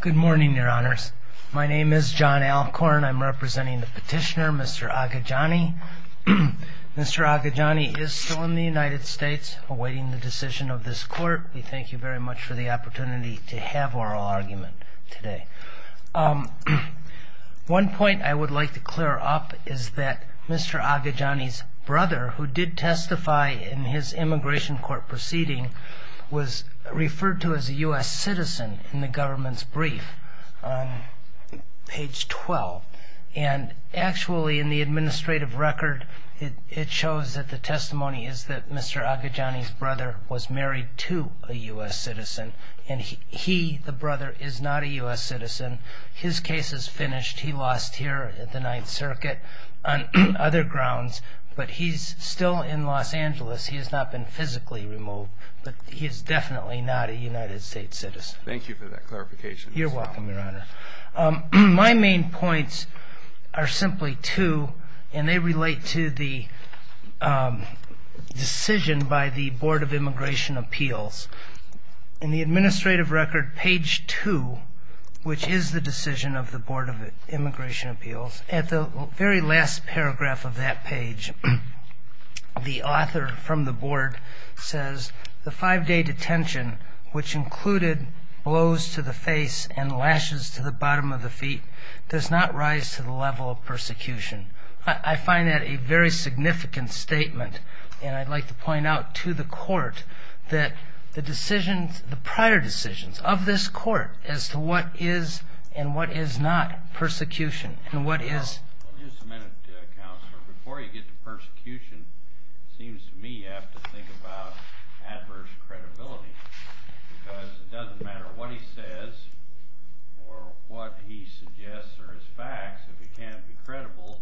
Good morning, Your Honors. My name is John Alcorn. I'm representing the petitioner, Mr. Ahajani. Mr. Ahajani is still in the United States awaiting the decision of this court. We thank you very much for the opportunity to have oral argument today. One point I would like to clear up is that Mr. Ahajani's brother, who did testify in his immigration court proceeding, was referred to as a U.S. citizen in the government's brief on page 12. And actually, in the administrative record, it shows that the testimony is that Mr. Ahajani's brother was married to a U.S. citizen. And he, the brother, is not a U.S. citizen. His case is finished. He lost here at the Ninth Circuit on other grounds. But he's still in Los Angeles. He has not been physically removed. But he is definitely not a United States citizen. Thank you for that clarification. You're welcome, Your Honor. My main points are simply two, and they relate to the decision by the Board of Immigration Appeals. In the administrative record, page 2, which is the decision of the Board of Immigration Appeals, at the very last paragraph of that page, the author from the board says, the five-day detention, which included blows to the face and lashes to the bottom of the feet, does not rise to the level of persecution. I find that a very significant statement, and I'd like to point out to the court that the decisions, the prior decisions of this court as to what is and what is not persecution and what is. Just a minute, Counselor. Before you get to persecution, it seems to me you have to think about adverse credibility, because it doesn't matter what he says or what he suggests are his facts. If he can't be credible,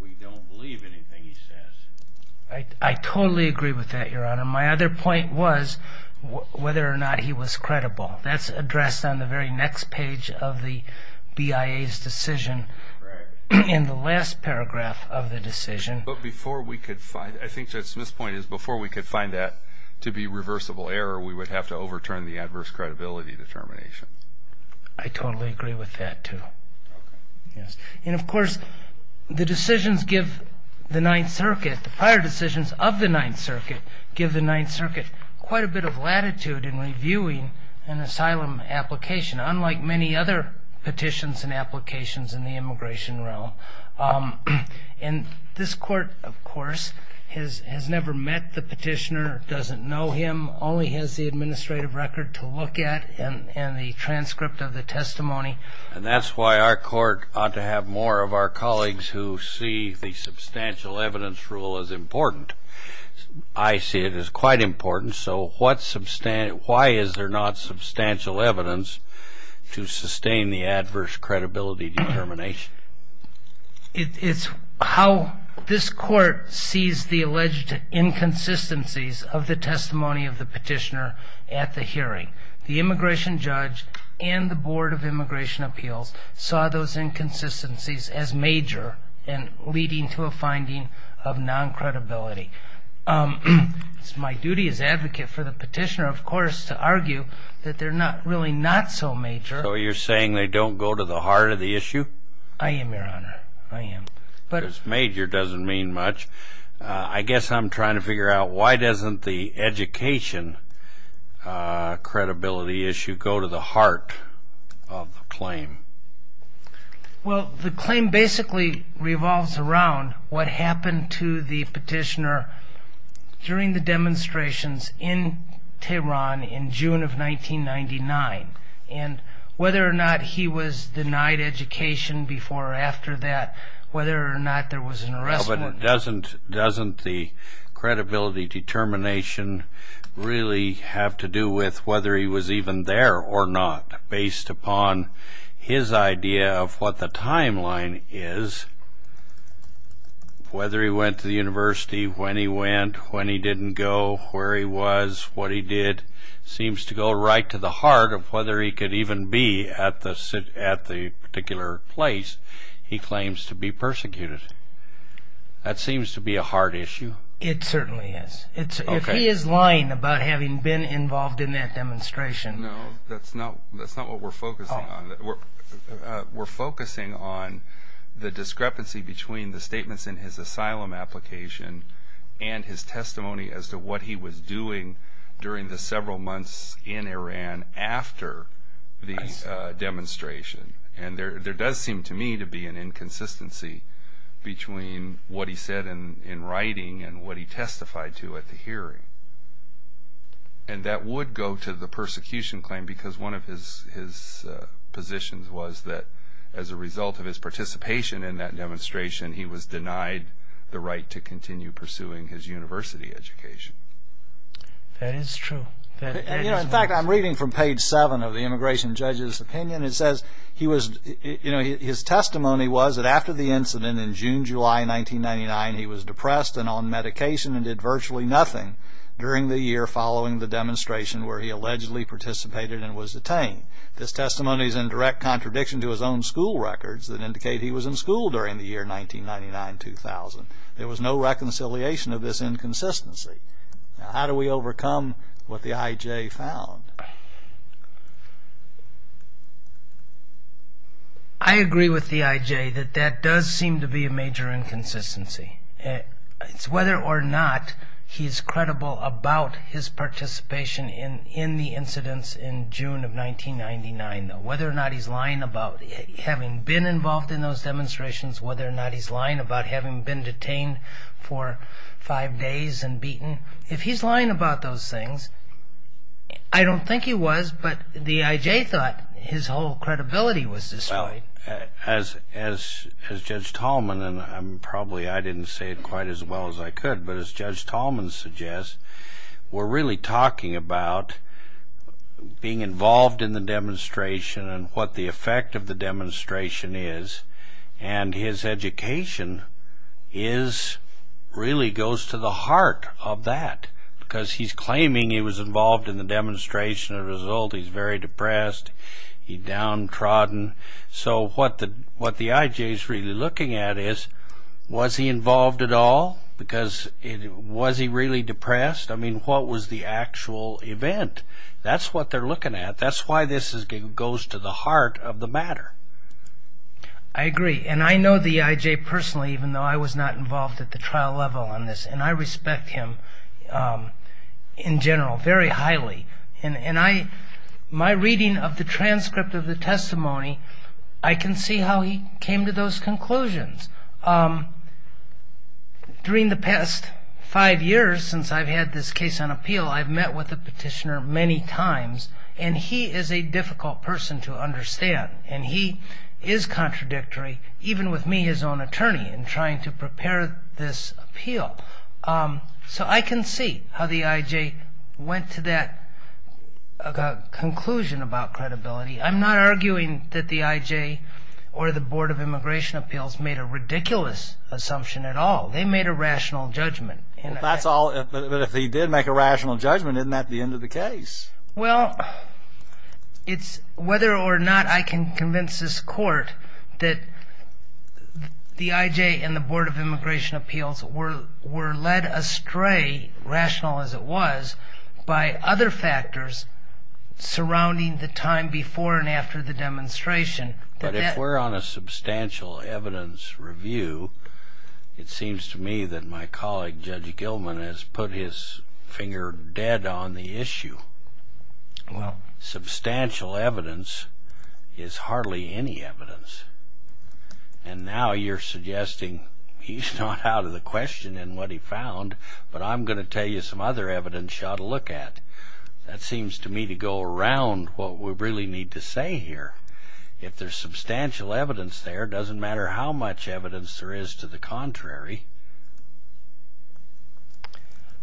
we don't believe anything he says. I totally agree with that, Your Honor. My other point was whether or not he was credible. That's addressed on the very next page of the BIA's decision in the last paragraph of the decision. But before we could find – I think Judge Smith's point is before we could find that to be reversible error, we would have to overturn the adverse credibility determination. I totally agree with that, too. Okay. And, of course, the decisions give the Ninth Circuit, the prior decisions of the Ninth Circuit, give the Ninth Circuit quite a bit of latitude in reviewing an asylum application, unlike many other petitions and applications in the immigration realm. And this court, of course, has never met the petitioner, doesn't know him, only has the administrative record to look at and the transcript of the testimony. And that's why our court ought to have more of our colleagues who see the substantial evidence rule as important. I see it as quite important. So why is there not substantial evidence to sustain the adverse credibility determination? It's how this court sees the alleged inconsistencies of the testimony of the petitioner at the hearing. The immigration judge and the Board of Immigration Appeals saw those inconsistencies as major and leading to a finding of non-credibility. It's my duty as advocate for the petitioner, of course, to argue that they're not really not so major. So you're saying they don't go to the heart of the issue? I am, Your Honor. I am. Because major doesn't mean much. I guess I'm trying to figure out why doesn't the education credibility issue go to the heart of the claim? Well, the claim basically revolves around what happened to the petitioner during the demonstrations in Tehran in June of 1999 and whether or not he was denied education before or after that, whether or not there was an arrest warrant. Well, but doesn't the credibility determination really have to do with whether he was even there or not, based upon his idea of what the timeline is, whether he went to the university, when he went, when he didn't go, where he was, what he did, seems to go right to the heart of whether he could even be at the particular place he claims to be persecuted. That seems to be a hard issue. It certainly is. If he is lying about having been involved in that demonstration... No, that's not what we're focusing on. We're focusing on the discrepancy between the statements in his asylum application and his testimony as to what he was doing during the several months in Iran after the demonstration. And there does seem to me to be an inconsistency between what he said in writing and what he testified to at the hearing. And that would go to the persecution claim because one of his positions was that as a result of his participation in that demonstration, he was denied the right to continue pursuing his university education. That is true. In fact, I'm reading from page 7 of the immigration judge's opinion. It says his testimony was that after the incident in June, July 1999, he was depressed and on medication and did virtually nothing during the year following the demonstration where he allegedly participated and was detained. This testimony is in direct contradiction to his own school records that indicate he was in school during the year 1999-2000. There was no reconciliation of this inconsistency. Now, how do we overcome what the IJ found? I agree with the IJ that that does seem to be a major inconsistency. It's whether or not he's credible about his participation in the incidents in June of 1999, whether or not he's lying about having been involved in those demonstrations, whether or not he's lying about having been detained for five days and beaten. If he's lying about those things, I don't think he was, but the IJ thought his whole credibility was destroyed. As Judge Tallman, and probably I didn't say it quite as well as I could, but as Judge Tallman suggests, we're really talking about being involved in the demonstration and what the effect of the demonstration is, and his education really goes to the heart of that because he's claiming he was involved in the demonstration. As a result, he's very depressed. He's downtrodden. So what the IJ is really looking at is was he involved at all because was he really depressed? I mean, what was the actual event? That's what they're looking at. That's why this goes to the heart of the matter. I agree, and I know the IJ personally, even though I was not involved at the trial level on this, and I respect him in general very highly. And my reading of the transcript of the testimony, I can see how he came to those conclusions. During the past five years since I've had this case on appeal, I've met with the petitioner many times, and he is a difficult person to understand, and he is contradictory, even with me, his own attorney, in trying to prepare this appeal. So I can see how the IJ went to that conclusion about credibility. I'm not arguing that the IJ or the Board of Immigration Appeals made a ridiculous assumption at all. They made a rational judgment. But if they did make a rational judgment, isn't that the end of the case? Well, it's whether or not I can convince this court that the IJ and the Board of Immigration Appeals were led astray, rational as it was, by other factors surrounding the time before and after the demonstration. But if we're on a substantial evidence review, it seems to me that my colleague, Judge Gilman, has put his finger dead on the issue. Substantial evidence is hardly any evidence. And now you're suggesting he's not out of the question in what he found, but I'm going to tell you some other evidence you ought to look at. That seems to me to go around what we really need to say here. If there's substantial evidence there, it doesn't matter how much evidence there is to the contrary.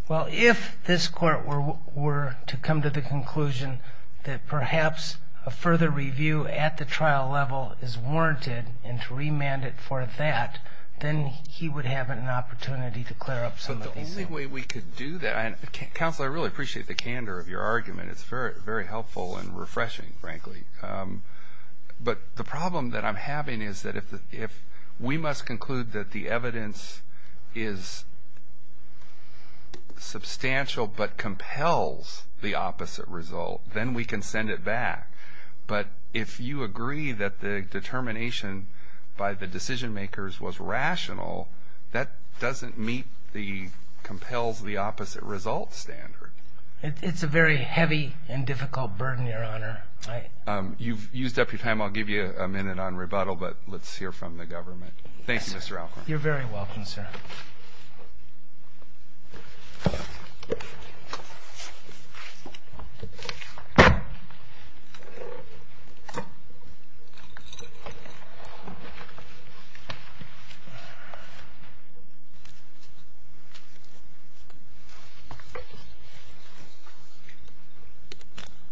Well, if this court were to come to the conclusion that perhaps a further review at the trial level is warranted and to remand it for that, then he would have an opportunity to clear up some of these things. But the only way we could do that, and Counselor, I really appreciate the candor of your argument. It's very helpful and refreshing, frankly. But the problem that I'm having is that if we must conclude that the evidence is substantial but compels the opposite result, then we can send it back. But if you agree that the determination by the decision-makers was rational, that doesn't meet the compels the opposite result standard. It's a very heavy and difficult burden, Your Honor. You've used up your time. I'll give you a minute on rebuttal, but let's hear from the government. Thank you, Mr. Alcorn. You're very welcome, sir.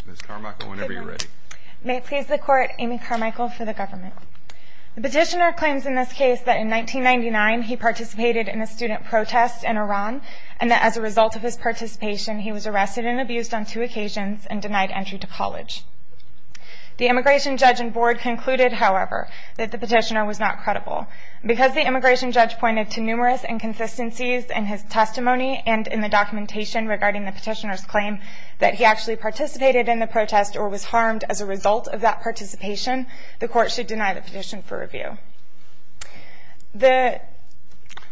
Ms. Carmichael, whenever you're ready. May it please the Court, Amy Carmichael for the government. The petitioner claims in this case that in 1999 he participated in a student protest in Iran and that as a result of his participation he was arrested and abused on two occasions and denied entry to college. The immigration judge and board concluded, however, that the petitioner was not credible. Because the immigration judge pointed to numerous inconsistencies in his testimony and in the documentation regarding the petitioner's claim that he actually participated in the protest or was harmed as a result of that participation, the Court should deny the petition for review.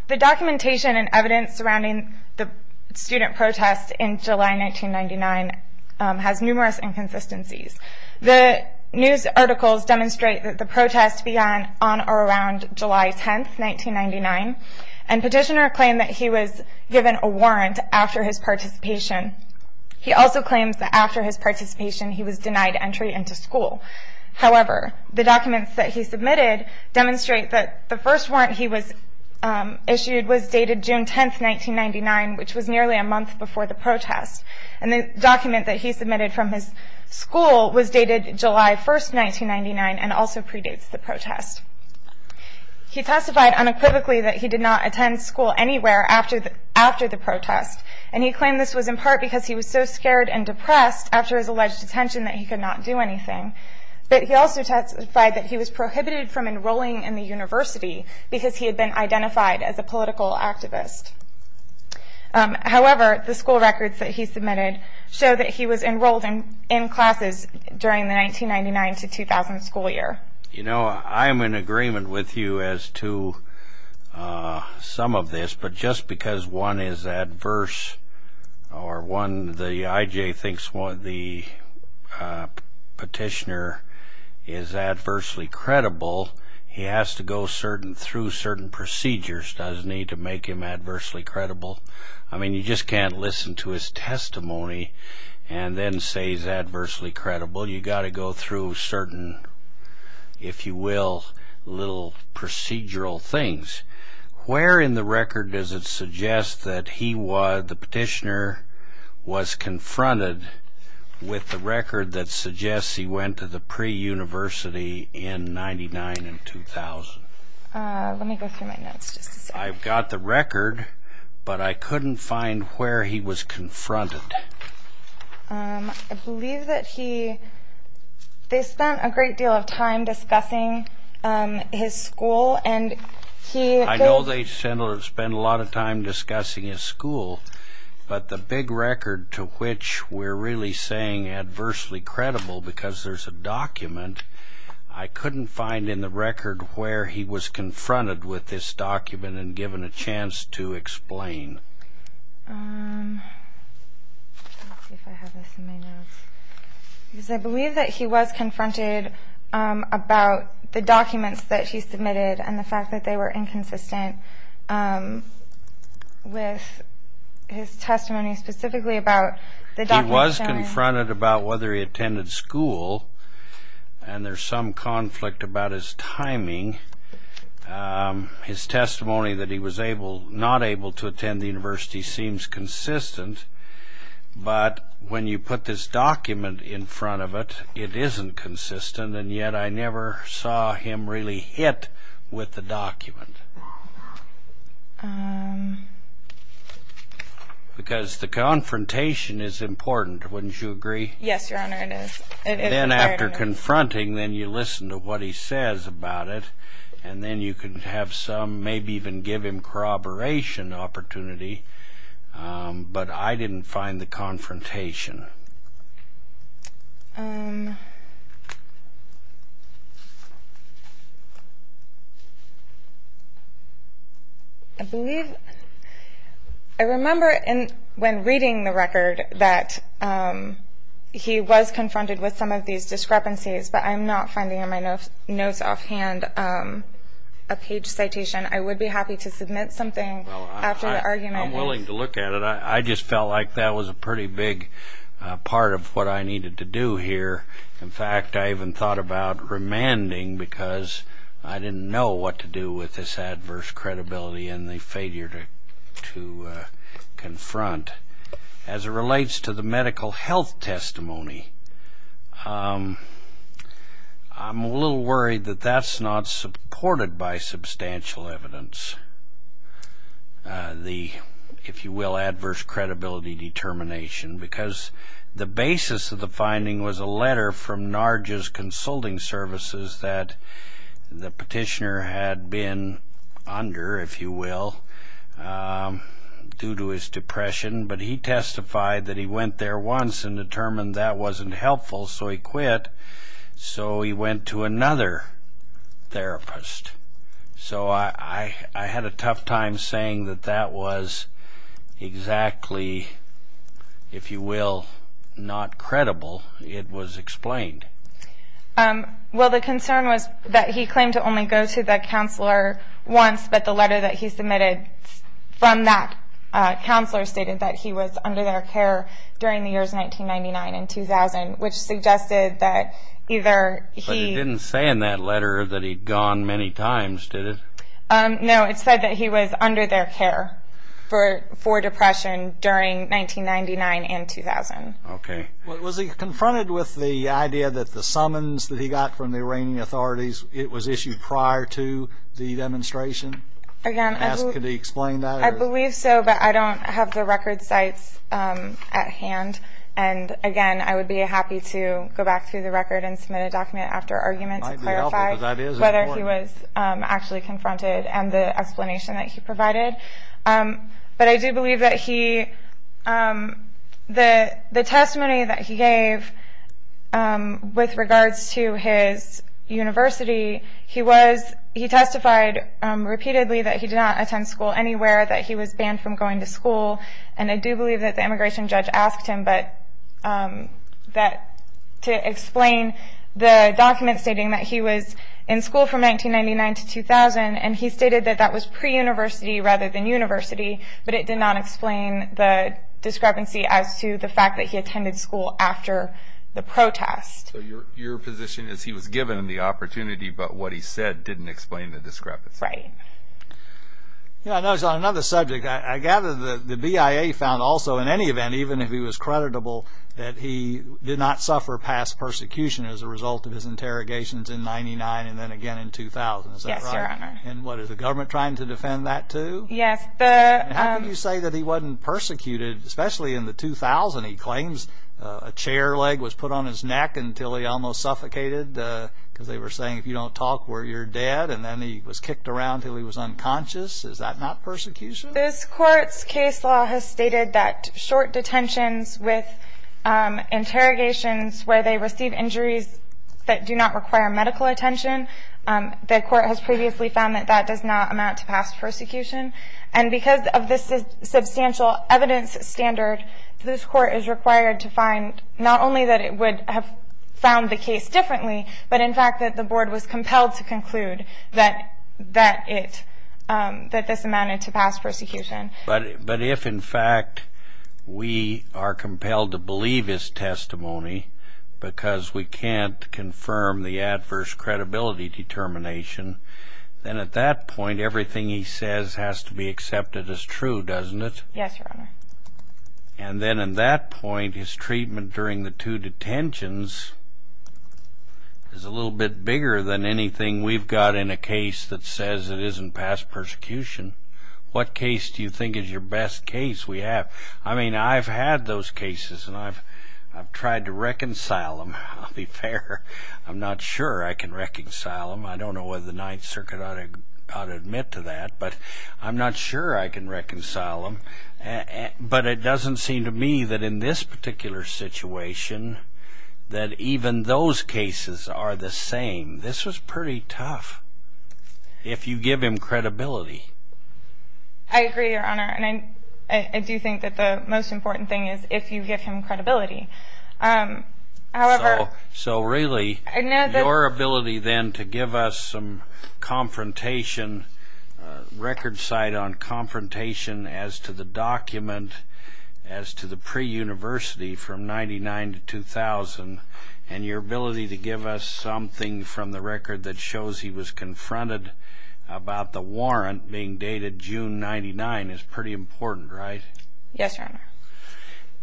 The documentation and evidence surrounding the student protest in July 1999 has numerous inconsistencies. The news articles demonstrate that the protest began on or around July 10, 1999, and petitioner claimed that he was given a warrant after his participation. He also claims that after his participation he was denied entry into school. However, the documents that he submitted demonstrate that the first warrant he was issued was dated June 10, 1999, which was nearly a month before the protest. And the document that he submitted from his school was dated July 1, 1999, and also predates the protest. He testified unequivocally that he did not attend school anywhere after the protest, and he claimed this was in part because he was so scared and depressed after his alleged detention that he could not do anything. But he also testified that he was prohibited from enrolling in the university because he had been identified as a political activist. However, the school records that he submitted show that he was enrolled in classes during the 1999 to 2000 school year. You know, I am in agreement with you as to some of this, but just because one is adverse or one, the IJ thinks the petitioner is adversely credible, he has to go through certain procedures, doesn't he, to make him adversely credible? I mean, you just can't listen to his testimony and then say he's adversely credible. Well, you've got to go through certain, if you will, little procedural things. Where in the record does it suggest that the petitioner was confronted with the record that suggests he went to the pre-university in 1999 and 2000? Let me go through my notes just a second. I've got the record, but I couldn't find where he was confronted. I believe that they spent a great deal of time discussing his school. I know they spent a lot of time discussing his school, but the big record to which we're really saying adversely credible because there's a document, I couldn't find in the record where he was confronted with this document and given a chance to explain. I believe that he was confronted about the documents that he submitted and the fact that they were inconsistent with his testimony specifically about the documents. He was confronted about whether he attended school, and there's some conflict about his timing. His testimony that he was not able to attend the university seems consistent, but when you put this document in front of it, it isn't consistent, and yet I never saw him really hit with the document. Because the confrontation is important, wouldn't you agree? Yes, Your Honor, it is. Then after confronting, then you listen to what he says about it, and then you can have some, maybe even give him corroboration opportunity, but I didn't find the confrontation. I believe, I remember when reading the record that he was confronted with some of these discrepancies, but I'm not finding in my notes offhand a page citation. I would be happy to submit something after the argument. I'm willing to look at it. I just felt like that was a pretty big discrepancy. Part of what I needed to do here, in fact, I even thought about remanding because I didn't know what to do with this adverse credibility and the failure to confront. As it relates to the medical health testimony, I'm a little worried that that's not supported by substantial evidence, the, if you will, adverse credibility determination, because the basis of the finding was a letter from NARJA's consulting services that the petitioner had been under, if you will, due to his depression, but he testified that he went there once and determined that wasn't helpful, so he quit. So he went to another therapist. So I had a tough time saying that that was exactly, if you will, not credible. It was explained. Well, the concern was that he claimed to only go to the counselor once, but the letter that he submitted from that counselor stated that he was under their care during the years 1999 and 2000, which suggested that either he… No, it said that he was under their care for depression during 1999 and 2000. Okay. Was he confronted with the idea that the summons that he got from the Iranian authorities, it was issued prior to the demonstration? Could he explain that? I believe so, but I don't have the record sites at hand. And, again, I would be happy to go back through the record and submit a document after argument to clarify whether he was actually confronted and the explanation that he provided. But I do believe that the testimony that he gave with regards to his university, he testified repeatedly that he did not attend school anywhere, that he was banned from going to school. And I do believe that the immigration judge asked him to explain the document stating that he was in school from 1999 to 2000, and he stated that that was pre-university rather than university, but it did not explain the discrepancy as to the fact that he attended school after the protest. So your position is he was given the opportunity, but what he said didn't explain the discrepancy. Right. I noticed on another subject, I gather the BIA found also in any event, even if he was creditable, that he did not suffer past persecution as a result of his interrogations in 1999 and then again in 2000. Yes, Your Honor. And what, is the government trying to defend that too? Yes. How can you say that he wasn't persecuted, especially in the 2000? He claims a chair leg was put on his neck until he almost suffocated because they were saying if you don't talk, you're dead, and then he was kicked around until he was unconscious. Is that not persecution? This Court's case law has stated that short detentions with interrogations where they receive injuries that do not require medical attention, the Court has previously found that that does not amount to past persecution, and because of this substantial evidence standard, this Court is required to find not only that it would have found the case differently, but in fact that the Board was compelled to conclude that this amounted to past persecution. But if, in fact, we are compelled to believe his testimony because we can't confirm the adverse credibility determination, then at that point everything he says has to be accepted as true, doesn't it? Yes, Your Honor. And then at that point, his treatment during the two detentions is a little bit bigger than anything we've got in a case that says it isn't past persecution. What case do you think is your best case we have? I mean, I've had those cases, and I've tried to reconcile them. I'll be fair, I'm not sure I can reconcile them. I don't know whether the Ninth Circuit ought to admit to that, but I'm not sure I can reconcile them. But it doesn't seem to me that in this particular situation that even those cases are the same. This was pretty tough if you give him credibility. I agree, Your Honor, and I do think that the most important thing is if you give him credibility. So really, your ability then to give us some record cite on confrontation as to the document, as to the pre-university from 1999 to 2000, and your ability to give us something from the record that shows he was confronted about the warrant being dated June 1999 is pretty important, right? Yes, Your Honor.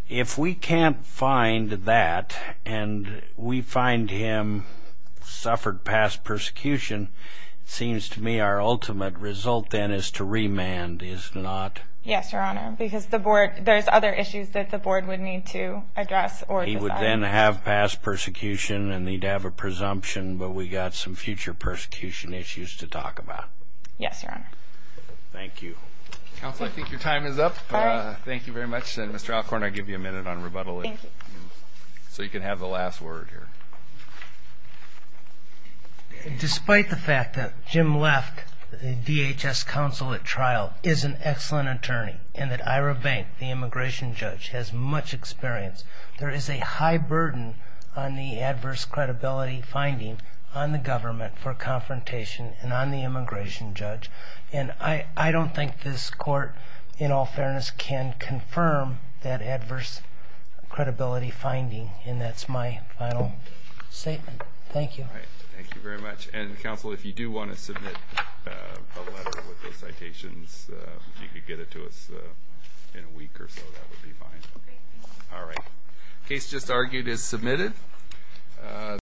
If we can't find that and we find him suffered past persecution, it seems to me our ultimate result then is to remand, is it not? Yes, Your Honor, because there's other issues that the board would need to address or decide. He would then have past persecution and he'd have a presumption, but we've got some future persecution issues to talk about. Yes, Your Honor. Thank you. Counsel, I think your time is up. Thank you very much. Mr. Alcorn, I'll give you a minute on rebuttal so you can have the last word here. Despite the fact that Jim Left, the DHS counsel at trial, is an excellent attorney and that Ira Bank, the immigration judge, has much experience, there is a high burden on the adverse credibility finding on the government for confrontation and on the immigration judge. I don't think this court, in all fairness, can confirm that adverse credibility finding, and that's my final statement. Thank you. All right. Thank you very much. Counsel, if you do want to submit a letter with those citations, if you could get it to us in a week or so, that would be fine. All right. The case just argued is submitted.